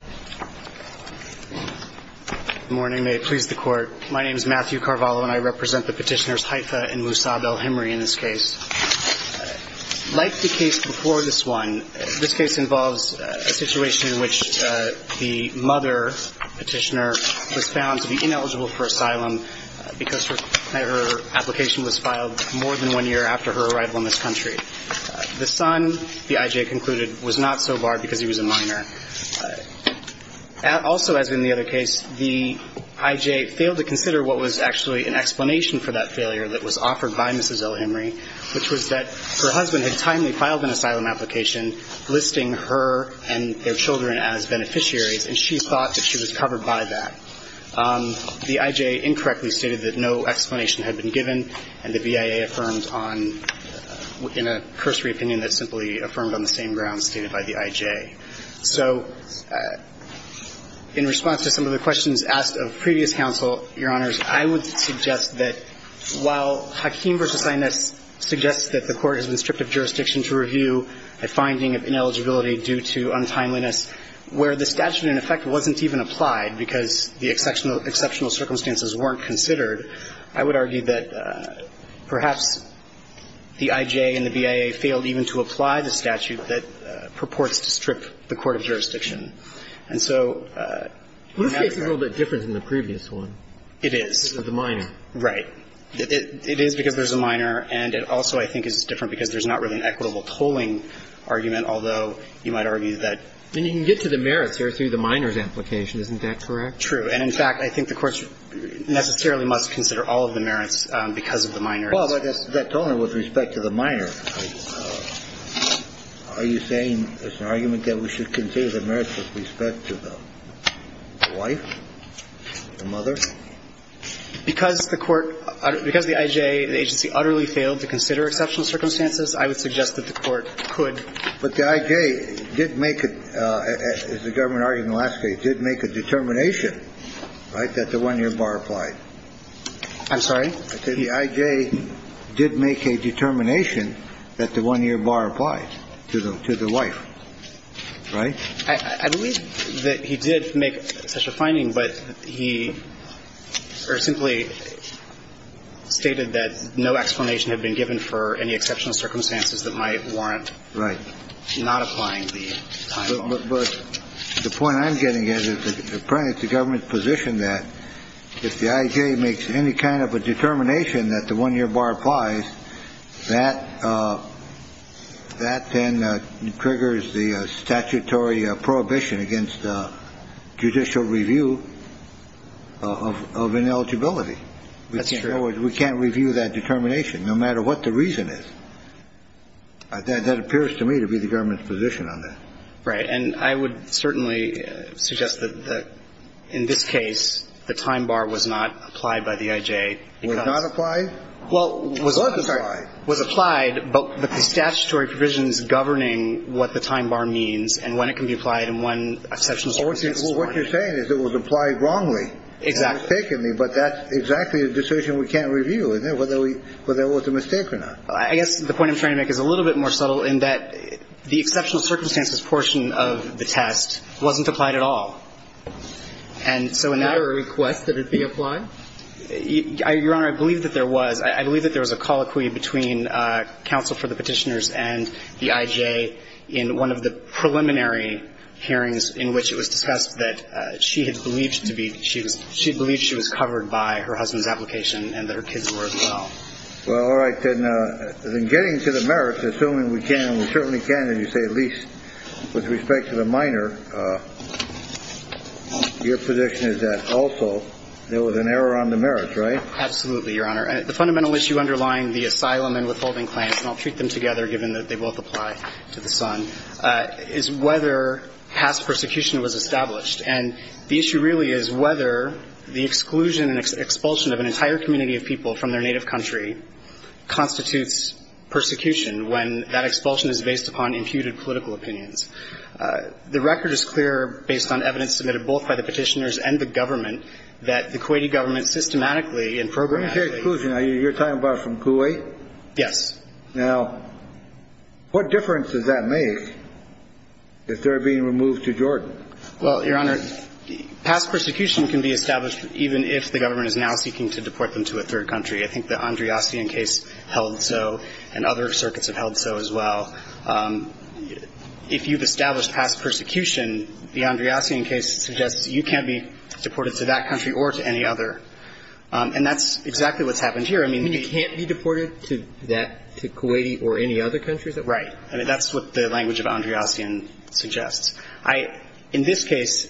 Good morning. May it please the Court. My name is Matthew Carvalho and I represent the petitioners Haitha and Musab al-Himri in this case. Like the case before this one, this case involves a situation in which the mother petitioner was found to be ineligible for asylum because her application was filed more than one year after her arrival in this country. The son, the IJ concluded, was not so barred because he was a minor. Also, as in the other case, the IJ failed to consider what was actually an explanation for that failure that was offered by Mrs. al-Himri, which was that her husband had timely filed an asylum application listing her and their children as beneficiaries and she thought that she was covered by that. The IJ incorrectly stated that no explanation had been given and the VIA affirmed on, in a cursory opinion, that simply affirmed on the same grounds stated by the IJ. So, in response to some of the questions asked of previous counsel, Your Honors, I would suggest that while Hakeem v. Sinus suggests that the Court has been stripped of jurisdiction to review a finding of ineligibility due to untimeliness, where the statute in effect wasn't even applied because the exceptional circumstances weren't considered, I would argue that perhaps the IJ and the VIA failed even to apply the statute that purports to strip the court of jurisdiction. And so, I'm not sure. Let's say it's a little bit different than the previous one. It is. Of the minor. Right. It is because there's a minor and it also, I think, is different because there's not really an equitable tolling argument, although you might argue that And you can get to the merits here through the minor's application. Isn't that correct? True. And, in fact, I think the Court necessarily must consider all of the merits because of the minor. Well, but that's only with respect to the minor. Are you saying there's an argument that we should consider the merits with respect to the wife, the mother? Because the court, because the IJ, the agency utterly failed to consider exceptional circumstances, I would suggest that the Court could. But the IJ did make, as the government argued in the last case, did make a determination, right, that the 1-year bar applied. I'm sorry? The IJ did make a determination that the 1-year bar applied to the wife, right? I believe that he did make such a finding, but he simply stated that no explanation had been given for any exceptional circumstances that might warrant not applying the time. But the point I'm getting at is that the government's position that if the IJ makes any kind of a determination that the 1-year bar applies, that then triggers the statutory prohibition against judicial review of ineligibility. That's true. We can't review that determination, no matter what the reason is. That appears to me to be the government's position on that. Right. And I would certainly suggest that in this case, the time bar was not applied by the IJ. It was not applied? Well, it was applied, but the statutory provision is governing what the time bar means and when it can be applied and when exceptional circumstances warrant it. What you're saying is it was applied wrongly. Exactly. It was taken, but that's exactly a decision we can't review, whether it was a mistake or not. I guess the point I'm trying to make is a little bit more subtle in that the exceptional circumstances portion of the test wasn't applied at all. And so in that... Was there a request that it be applied? Your Honor, I believe that there was. I believe that there was a colloquy between counsel for the petitioners and the IJ in one of the preliminary hearings in which it was discussed that she had believed she was covered by her husband's application and that her kids were as well. Well, all right. Then getting to the merits, assuming we can and we certainly can, as you say, at least with respect to the minor, your position is that also there was an error on the merits, right? Absolutely, Your Honor. The fundamental issue underlying the asylum and withholding claims, and I'll treat them together given that they both apply to the son, is whether past persecution was established. And the issue really is whether the exclusion and expulsion of an entire community of people from their native country constitutes persecution when that expulsion is based upon imputed political opinions. The record is clear, based on evidence submitted both by the petitioners and the government, that the Kuwaiti government systematically and programmatically... When you say exclusion, are you talking about from Kuwait? Yes. Now, what difference does that make if they're being removed to Jordan? Well, Your Honor, past persecution can be established even if the government is now seeking to deport them to a third country. I think the Andreassian case held so, and other circuits have held so as well. If you've established past persecution, the Andreassian case suggests you can't be deported to that country or to any other. And that's exactly what's happened here. I mean, you can't be deported to Kuwaiti or any other country, is that right? Right. I mean, that's what the language of Andreassian suggests. I, in this case,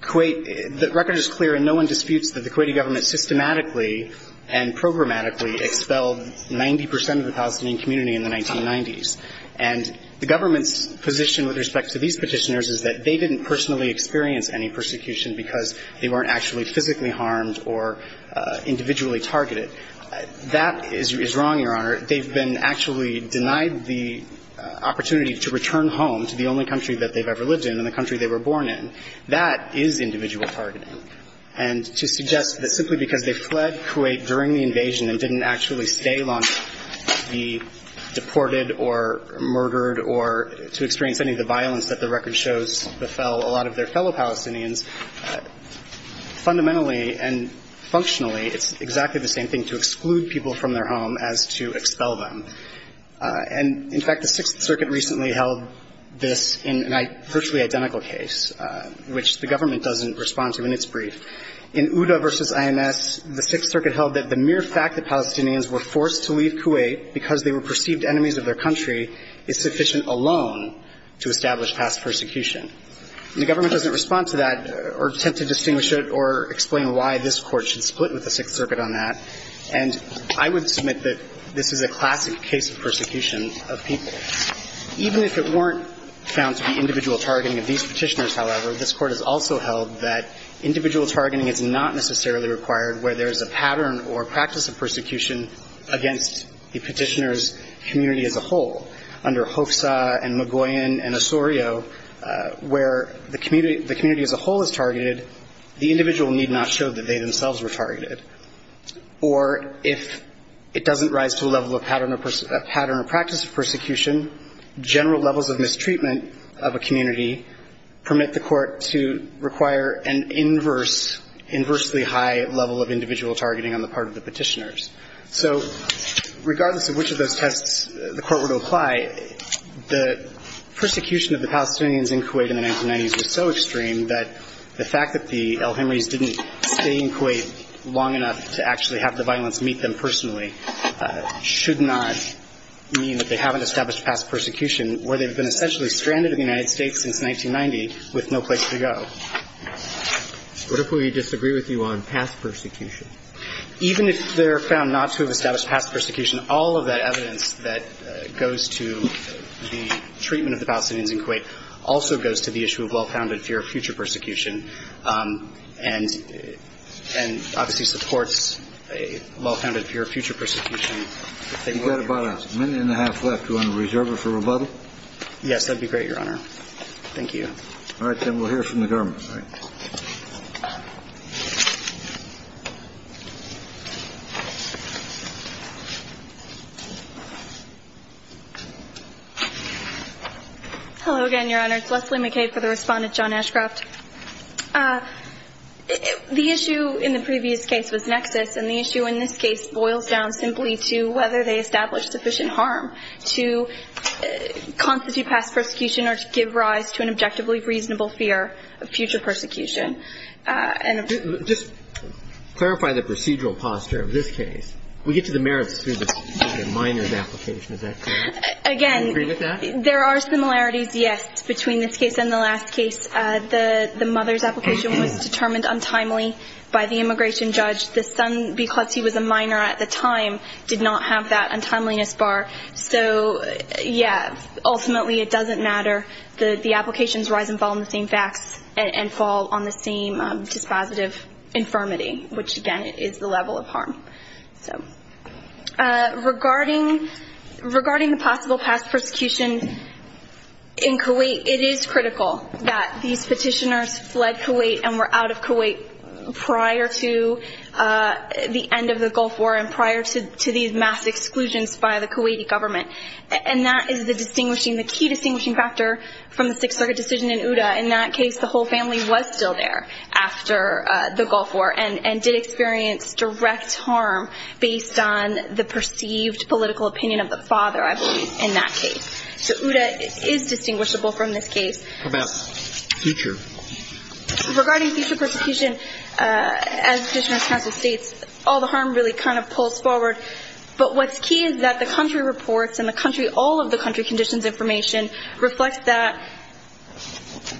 Kuwait, the record is clear and no one disputes that the Kuwaiti government systematically and programmatically expelled 90 percent of the Palestinian community in the 1990s. And the government's position with respect to these petitioners is that they didn't personally experience any persecution because they weren't actually physically harmed or individually targeted. That is wrong, Your Honor. They've been actually denied the opportunity to return home to the only country that they've ever lived in and the country they were born in. That is individual targeting. And to suggest that simply because they fled Kuwait during the invasion and didn't actually stay long to be deported or murdered or to experience any of the violence that the record shows a lot of their fellow Palestinians, fundamentally and functionally, it's exactly the same thing to exclude people from their home as to expel them. And, in fact, the Sixth Circuit recently held this in a virtually identical case, which the government doesn't respond to in its brief. In Uda v. IMS, the Sixth Circuit held that the mere fact that Palestinians were forced to leave Kuwait because they were perceived enemies of their country is sufficient alone to establish past persecution. The government doesn't respond to that or attempt to distinguish it or explain why this Court should split with the Sixth Circuit on that. And I would submit that this is a classic case of persecution of people. Even if it weren't found to be individual targeting of these Petitioners, however, this Court has also held that individual targeting is not necessarily required where there is a pattern or practice of persecution against the Petitioner's community as a whole. Under Hofsa and Magoyan and Osorio, where the community as a whole is targeted, the individual need not show that they themselves were targeted. Or if it doesn't rise to a level of pattern or practice of persecution, general levels of mistreatment of a community permit the Court to require an inversely high level of individual targeting on the part of the Petitioners. So regardless of which of those tests the Court were to apply, the persecution of the Palestinians in Kuwait in the 1990s was so extreme that the fact that the El Henrys didn't stay in Kuwait long enough to actually have the violence meet them personally should not mean that they haven't established past persecution, where they've been essentially stranded in the United States since 1990 with no place to go. What if we disagree with you on past persecution? Even if they're found not to have established past persecution, all of that evidence that goes to the treatment of the Palestinians in Kuwait also goes to the issue of well-founded fear of future persecution and obviously supports a well-founded fear of future persecution. You've got about a minute and a half left. Do you want to reserve it for rebuttal? Yes, that'd be great, Your Honor. Thank you. All right, then we'll hear from the government. Hello again, Your Honor. It's Leslie McCabe for the Respondent, John Ashcroft. The issue in the previous case was nexus, and the issue in this case boils down simply to whether they established sufficient harm to constitute past persecution or to give rise to an objectively reasonable fear of future persecution. And if you could just clarify the procedural posture of this case. We get to the merits through this minor example. Is that correct? Again, there are similarities, yes, between this case and the last case. The mother's application was determined untimely by the immigration judge. The son, because he was a minor at the time, did not have that untimeliness bar. So yeah, ultimately it doesn't matter. The applications rise and fall on the same facts and fall on the same dispositive infirmity, which again is the level of harm. So regarding the possible past persecution in Kuwait, it is critical that these petitioners fled Kuwait and were out of Kuwait prior to the end of the Gulf War and prior to these mass exclusions by the Kuwaiti government. And that is the distinguishing, the key distinguishing factor from the Sixth Circuit decision in Uda. In that case, the whole family was still there after the Gulf War and did experience direct harm based on the perceived political opinion of the father, I believe, in that case. So Uda is distinguishable from this case. How about future? Regarding future persecution, as Petitioner's counsel states, all the harm really kind of pulls forward. But what's key is that the country reports and the country, all of the country conditions information reflects that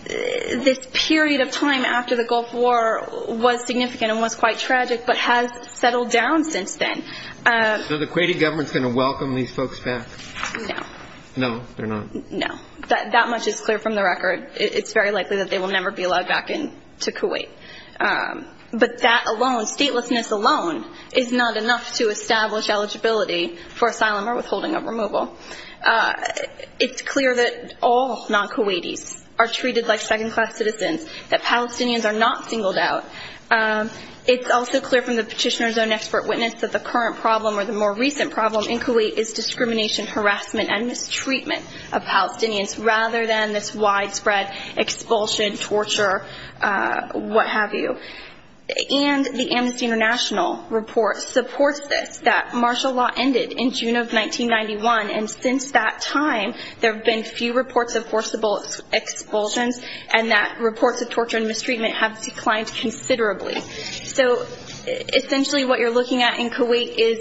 this period of time after the Gulf War was significant and was quite tragic, but has settled down since then. So the Kuwaiti government is going to welcome these folks back? No. No, they're not? No. That much is clear from the record. It's very likely that they will never be allowed back into Kuwait. But that alone, statelessness alone is not enough to establish eligibility for asylum or withholding of removal. It's clear that all non-Kuwaitis are treated like second-class citizens, that Palestinians are not singled out. It's also clear from the Petitioner's own expert witness that the current problem or the more recent problem in Kuwait is discrimination, harassment, and mistreatment of Palestinians rather than this widespread expulsion, torture, what have you. And the Amnesty International report supports this, that martial law ended in June of 1991. And since that time, there have been few reports of forcible expulsions and that reports of So essentially what you're looking at in Kuwait is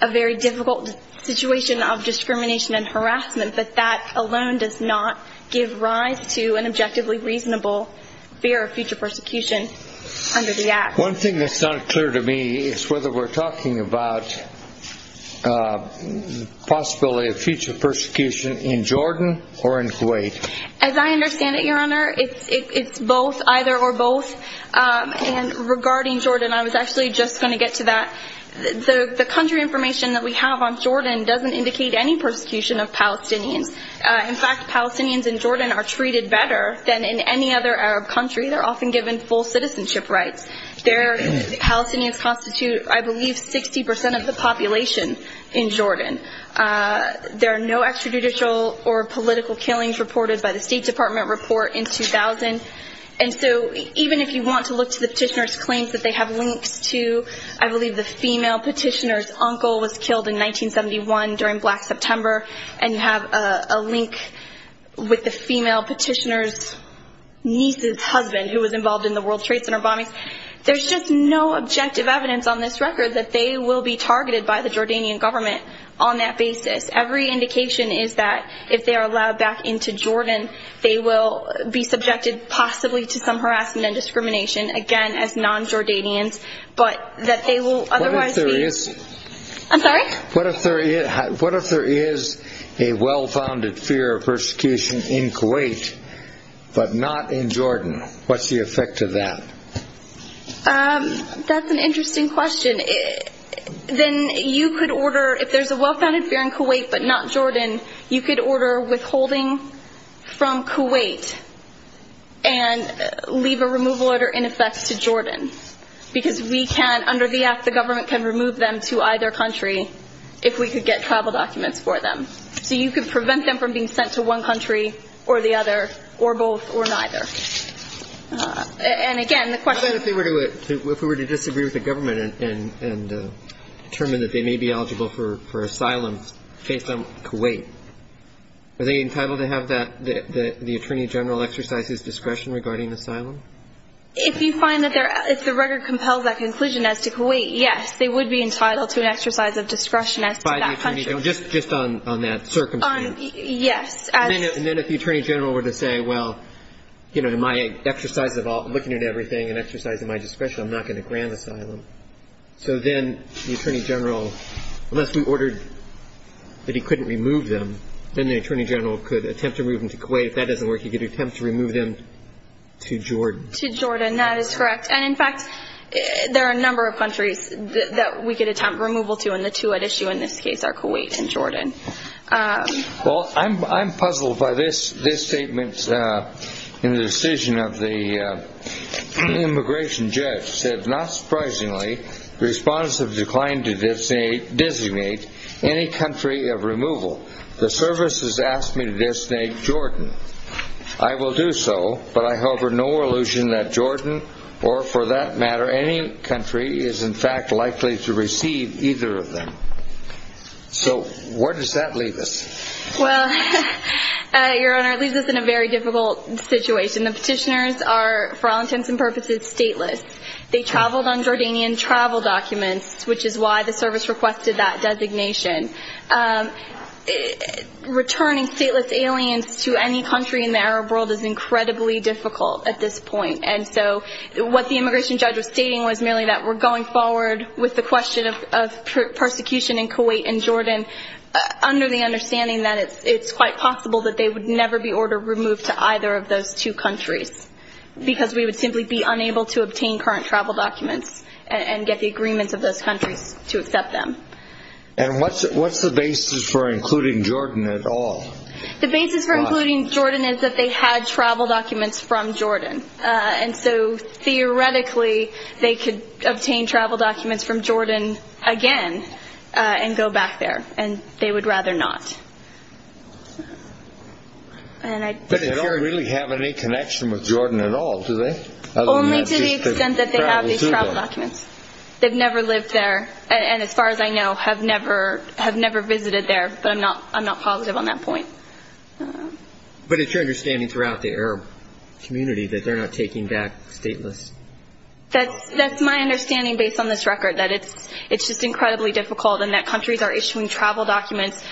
a very difficult situation of discrimination and harassment, but that alone does not give rise to an objectively reasonable fear of future persecution under the act. One thing that's not clear to me is whether we're talking about the possibility of future persecution in Jordan or in Kuwait. As I understand it, Your Honor, it's both, either or both. And regarding Jordan, I was actually just going to get to that. The country information that we have on Jordan doesn't indicate any persecution of Palestinians. In fact, Palestinians in Jordan are treated better than in any other Arab country. They're often given full citizenship rights. Palestinians constitute, I believe, 60 percent of the population in Jordan. There are no extrajudicial or political killings reported by the State Department report in 2000. And so even if you want to look to the petitioner's claims that they have links to, I believe, the female petitioner's uncle was killed in 1971 during Black September. And you have a link with the female petitioner's niece's husband who was involved in the World Trade Center bombings. There's just no objective evidence on this record that they will be targeted by the Jordanian government on that basis. Every indication is that if they are allowed back into Jordan, they will be subjected possibly to some harassment and discrimination, again, as non-Jordanians, but that they will otherwise be. I'm sorry? What if there is a well-founded fear of persecution in Kuwait, but not in Jordan? What's the effect of that? That's an interesting question. Then you could order, if there's a well-founded fear in Kuwait, but not Jordan, you could order withholding from Kuwait and leave a removal order in effect to Jordan. Because we can, under the act, the government can remove them to either country if we could get travel documents for them. So you could prevent them from being sent to one country or the other, or both, or neither. And again, the question— If we were to disagree with the government and determine that they may be eligible for asylum based on Kuwait, are they entitled to have the Attorney General exercise his discretion regarding asylum? If you find that they're—if the record compels that conclusion as to Kuwait, yes, they would be entitled to an exercise of discretion as to that country. Just on that circumstance? Yes. And then if the Attorney General were to say, well, you know, in my exercise of looking at everything and exercising my discretion, I'm not going to grant asylum. So then the Attorney General, unless we ordered that he couldn't remove them, then the Attorney General could attempt to remove them to Kuwait. If that doesn't work, he could attempt to remove them to Jordan. To Jordan, that is correct. And in fact, there are a number of countries that we could attempt removal to, and the two at issue in this case are Kuwait and Jordan. Well, I'm puzzled by this statement in the decision of the immigration judge. It said, not surprisingly, the respondents have declined to designate any country of removal. The services asked me to designate Jordan. I will do so, but I hover no illusion that Jordan or for that matter any country is in fact likely to receive either of them. So where does that leave us? Well, Your Honor, it leaves us in a very difficult situation. The petitioners are, for all intents and purposes, stateless. They traveled on Jordanian travel documents, which is why the service requested that designation. Returning stateless aliens to any country in the Arab world is incredibly difficult at this point. And so what the immigration judge was stating was merely that we're going forward with the question of persecution in Kuwait and Jordan under the understanding that it's quite possible that they would never be ordered removed to either of those two countries. Because we would simply be unable to obtain current travel documents and get the agreements of those countries to accept them. And what's the basis for including Jordan at all? The basis for including Jordan is that they had travel documents from Jordan. And so theoretically, they could obtain travel documents from Jordan again and go back there, and they would rather not. But they don't really have any connection with Jordan at all, do they? Only to the extent that they have these travel documents. They've never lived there, and as far as I know, have never visited there. But I'm not positive on that point. But it's your understanding throughout the Arab community that they're not taking back stateless. That's my understanding based on this record, that it's just incredibly difficult and that countries are issuing travel documents.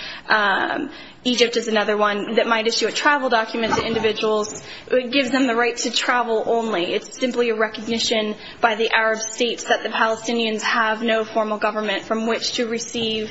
Egypt is another one that might issue a travel document to individuals. It gives them the right to travel only. It's simply a recognition by the Arab states that the Palestinians have no formal government from which to receive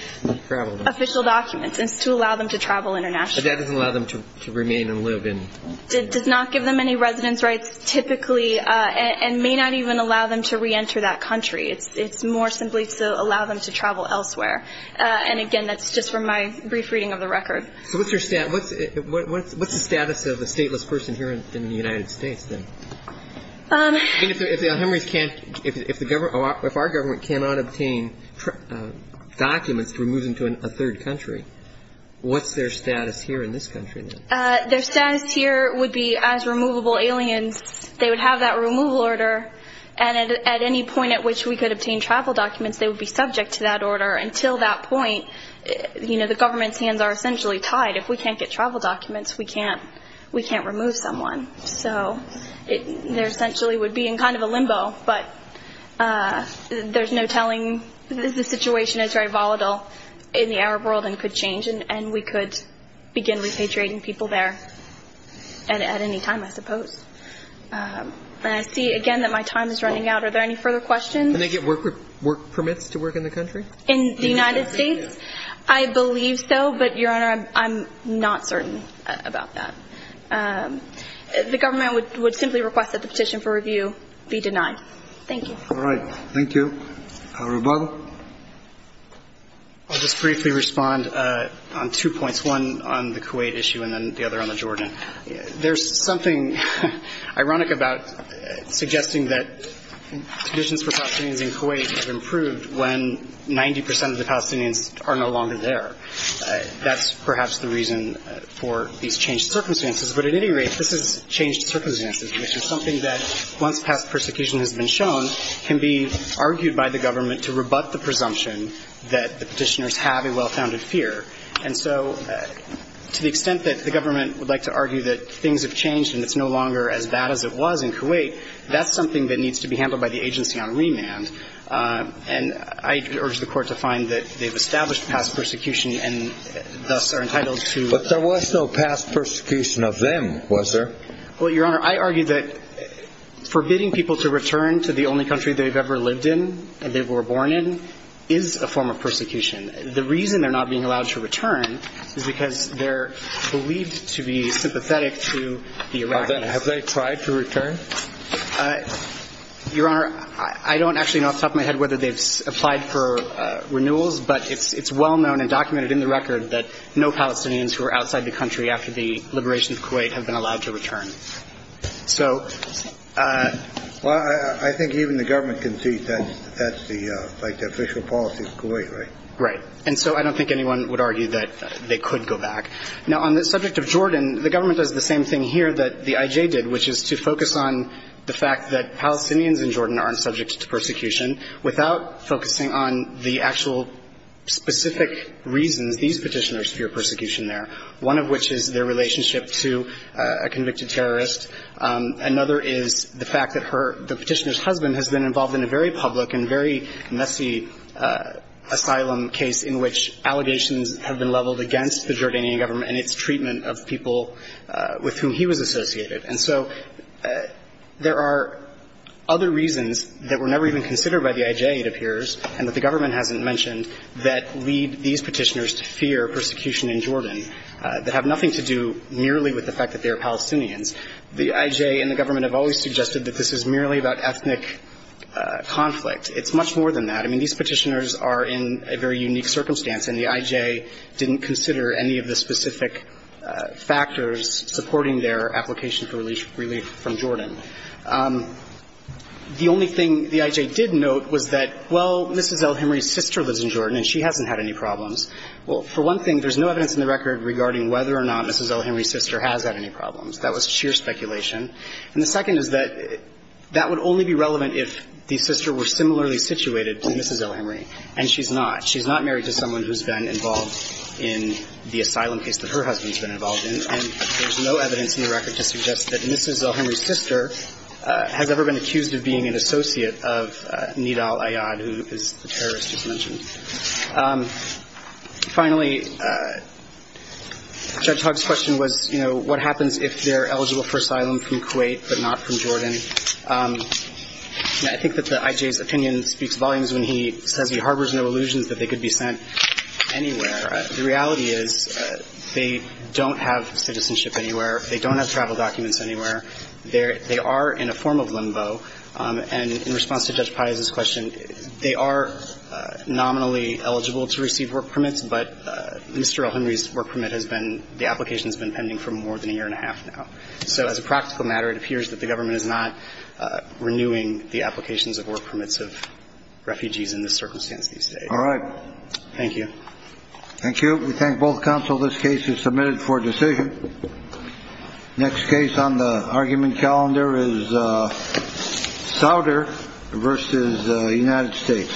official documents and to allow them to travel internationally. That doesn't allow them to remain and live in? Does not give them any residence rights, typically, and may not even allow them to reenter that country. It's more simply to allow them to travel elsewhere. And again, that's just from my brief reading of the record. So what's the status of a stateless person here in the United States then? If our government cannot obtain documents to move into a third country, what's their status here in this country? Their status here would be as removable aliens. They would have that removal order. And at any point at which we could obtain travel documents, they would be subject to that order. Until that point, the government's hands are essentially tied. If we can't get travel documents, we can't remove someone. So they essentially would be in kind of a limbo. But there's no telling. The situation is very volatile in the Arab world and could change. And we could begin repatriating people there at any time, I suppose. And I see, again, that my time is running out. Are there any further questions? Can they get work permits to work in the country? In the United States? I believe so. But, Your Honor, I'm not certain about that. The government would simply request that the petition for review be denied. Thank you. All right. Thank you. Reuben? I'll just briefly respond on two points, one on the Kuwait issue and then the other on the Jordan. There's something ironic about suggesting that conditions for Palestinians in Kuwait have improved when 90 percent of the Palestinians are no longer there. That's perhaps the reason for these changed circumstances. But at any rate, this is changed circumstances, which is something that, once past persecution has been shown, can be argued by the government to rebut the presumption that the petitioners have a well-founded fear. And so, to the extent that the government would like to argue that things have changed and it's no longer as bad as it was in Kuwait, that's something that needs to be handled by the agency on remand. And I urge the Court to find that they've established past persecution and thus are entitled to- But there was no past persecution of them, was there? Well, Your Honor, I argue that forbidding people to return to the only country they've ever lived in and they were born in is a form of persecution. The reason they're not being allowed to return is because they're believed to be sympathetic to the Iraqis. Have they tried to return? Your Honor, I don't actually know off the top of my head whether they've applied for renewals, but it's well known and documented in the record that no Palestinians who are outside the country after the liberation of Kuwait have been allowed to return. So- Well, I think even the government can see that that's the official policy of Kuwait, right? Right. And so I don't think anyone would argue that they could go back. Now, on the subject of Jordan, the government does the same thing here that the IJ did, which is to focus on the fact that Palestinians in Jordan aren't subject to persecution without focusing on the actual specific reasons these petitioners fear persecution there, one of which is their relationship to a convicted terrorist. Another is the fact that the petitioner's husband has been involved in a very public and very messy asylum case in which allegations have been leveled against the Jordanian government and its treatment of people with whom he was associated. And so there are other reasons that were never even considered by the IJ, it appears, and that the government hasn't mentioned that lead these petitioners to fear persecution in Jordan that have nothing to do merely with the fact that they are Palestinians. The IJ and the government have always suggested that this is merely about ethnic conflict. It's much more than that. I mean, these petitioners are in a very unique circumstance, and the IJ didn't consider any of the specific factors supporting their application for relief from Jordan. The only thing the IJ did note was that, well, Mrs. El-Hemry's sister lives in Jordan and she hasn't had any problems. Well, for one thing, there's no evidence in the record regarding whether or not Mrs. El-Hemry's sister has had any problems. That was sheer speculation. And the second is that that would only be relevant if the sister were similarly situated to Mrs. El-Hemry, and she's not. She's not married to someone who's been involved in the asylum case that her husband's been involved in, and there's no evidence in the record to suggest that Mrs. El-Hemry's sister has ever been accused of being an associate of Nidal Ayad, who is the terrorist who's mentioned. Finally, Judge Hogg's question was, you know, what happens if they're eligible for asylum from Kuwait but not from Jordan? I think that the IJ's opinion speaks volumes when he says he harbors no illusions that they could be sent anywhere. Right. The reality is they don't have citizenship anywhere. They don't have travel documents anywhere. They are in a form of limbo. And in response to Judge Pate's question, they are nominally eligible to receive work permits, but Mr. El-Hemry's work permit has been – the application has been pending for more than a year and a half now. So as a practical matter, it appears that the government is not renewing the applications of work permits of refugees in this circumstance these days. All right. Thank you. Thank you. We thank both counsel. This case is submitted for decision. Next case on the argument calendar is Souder v. United States.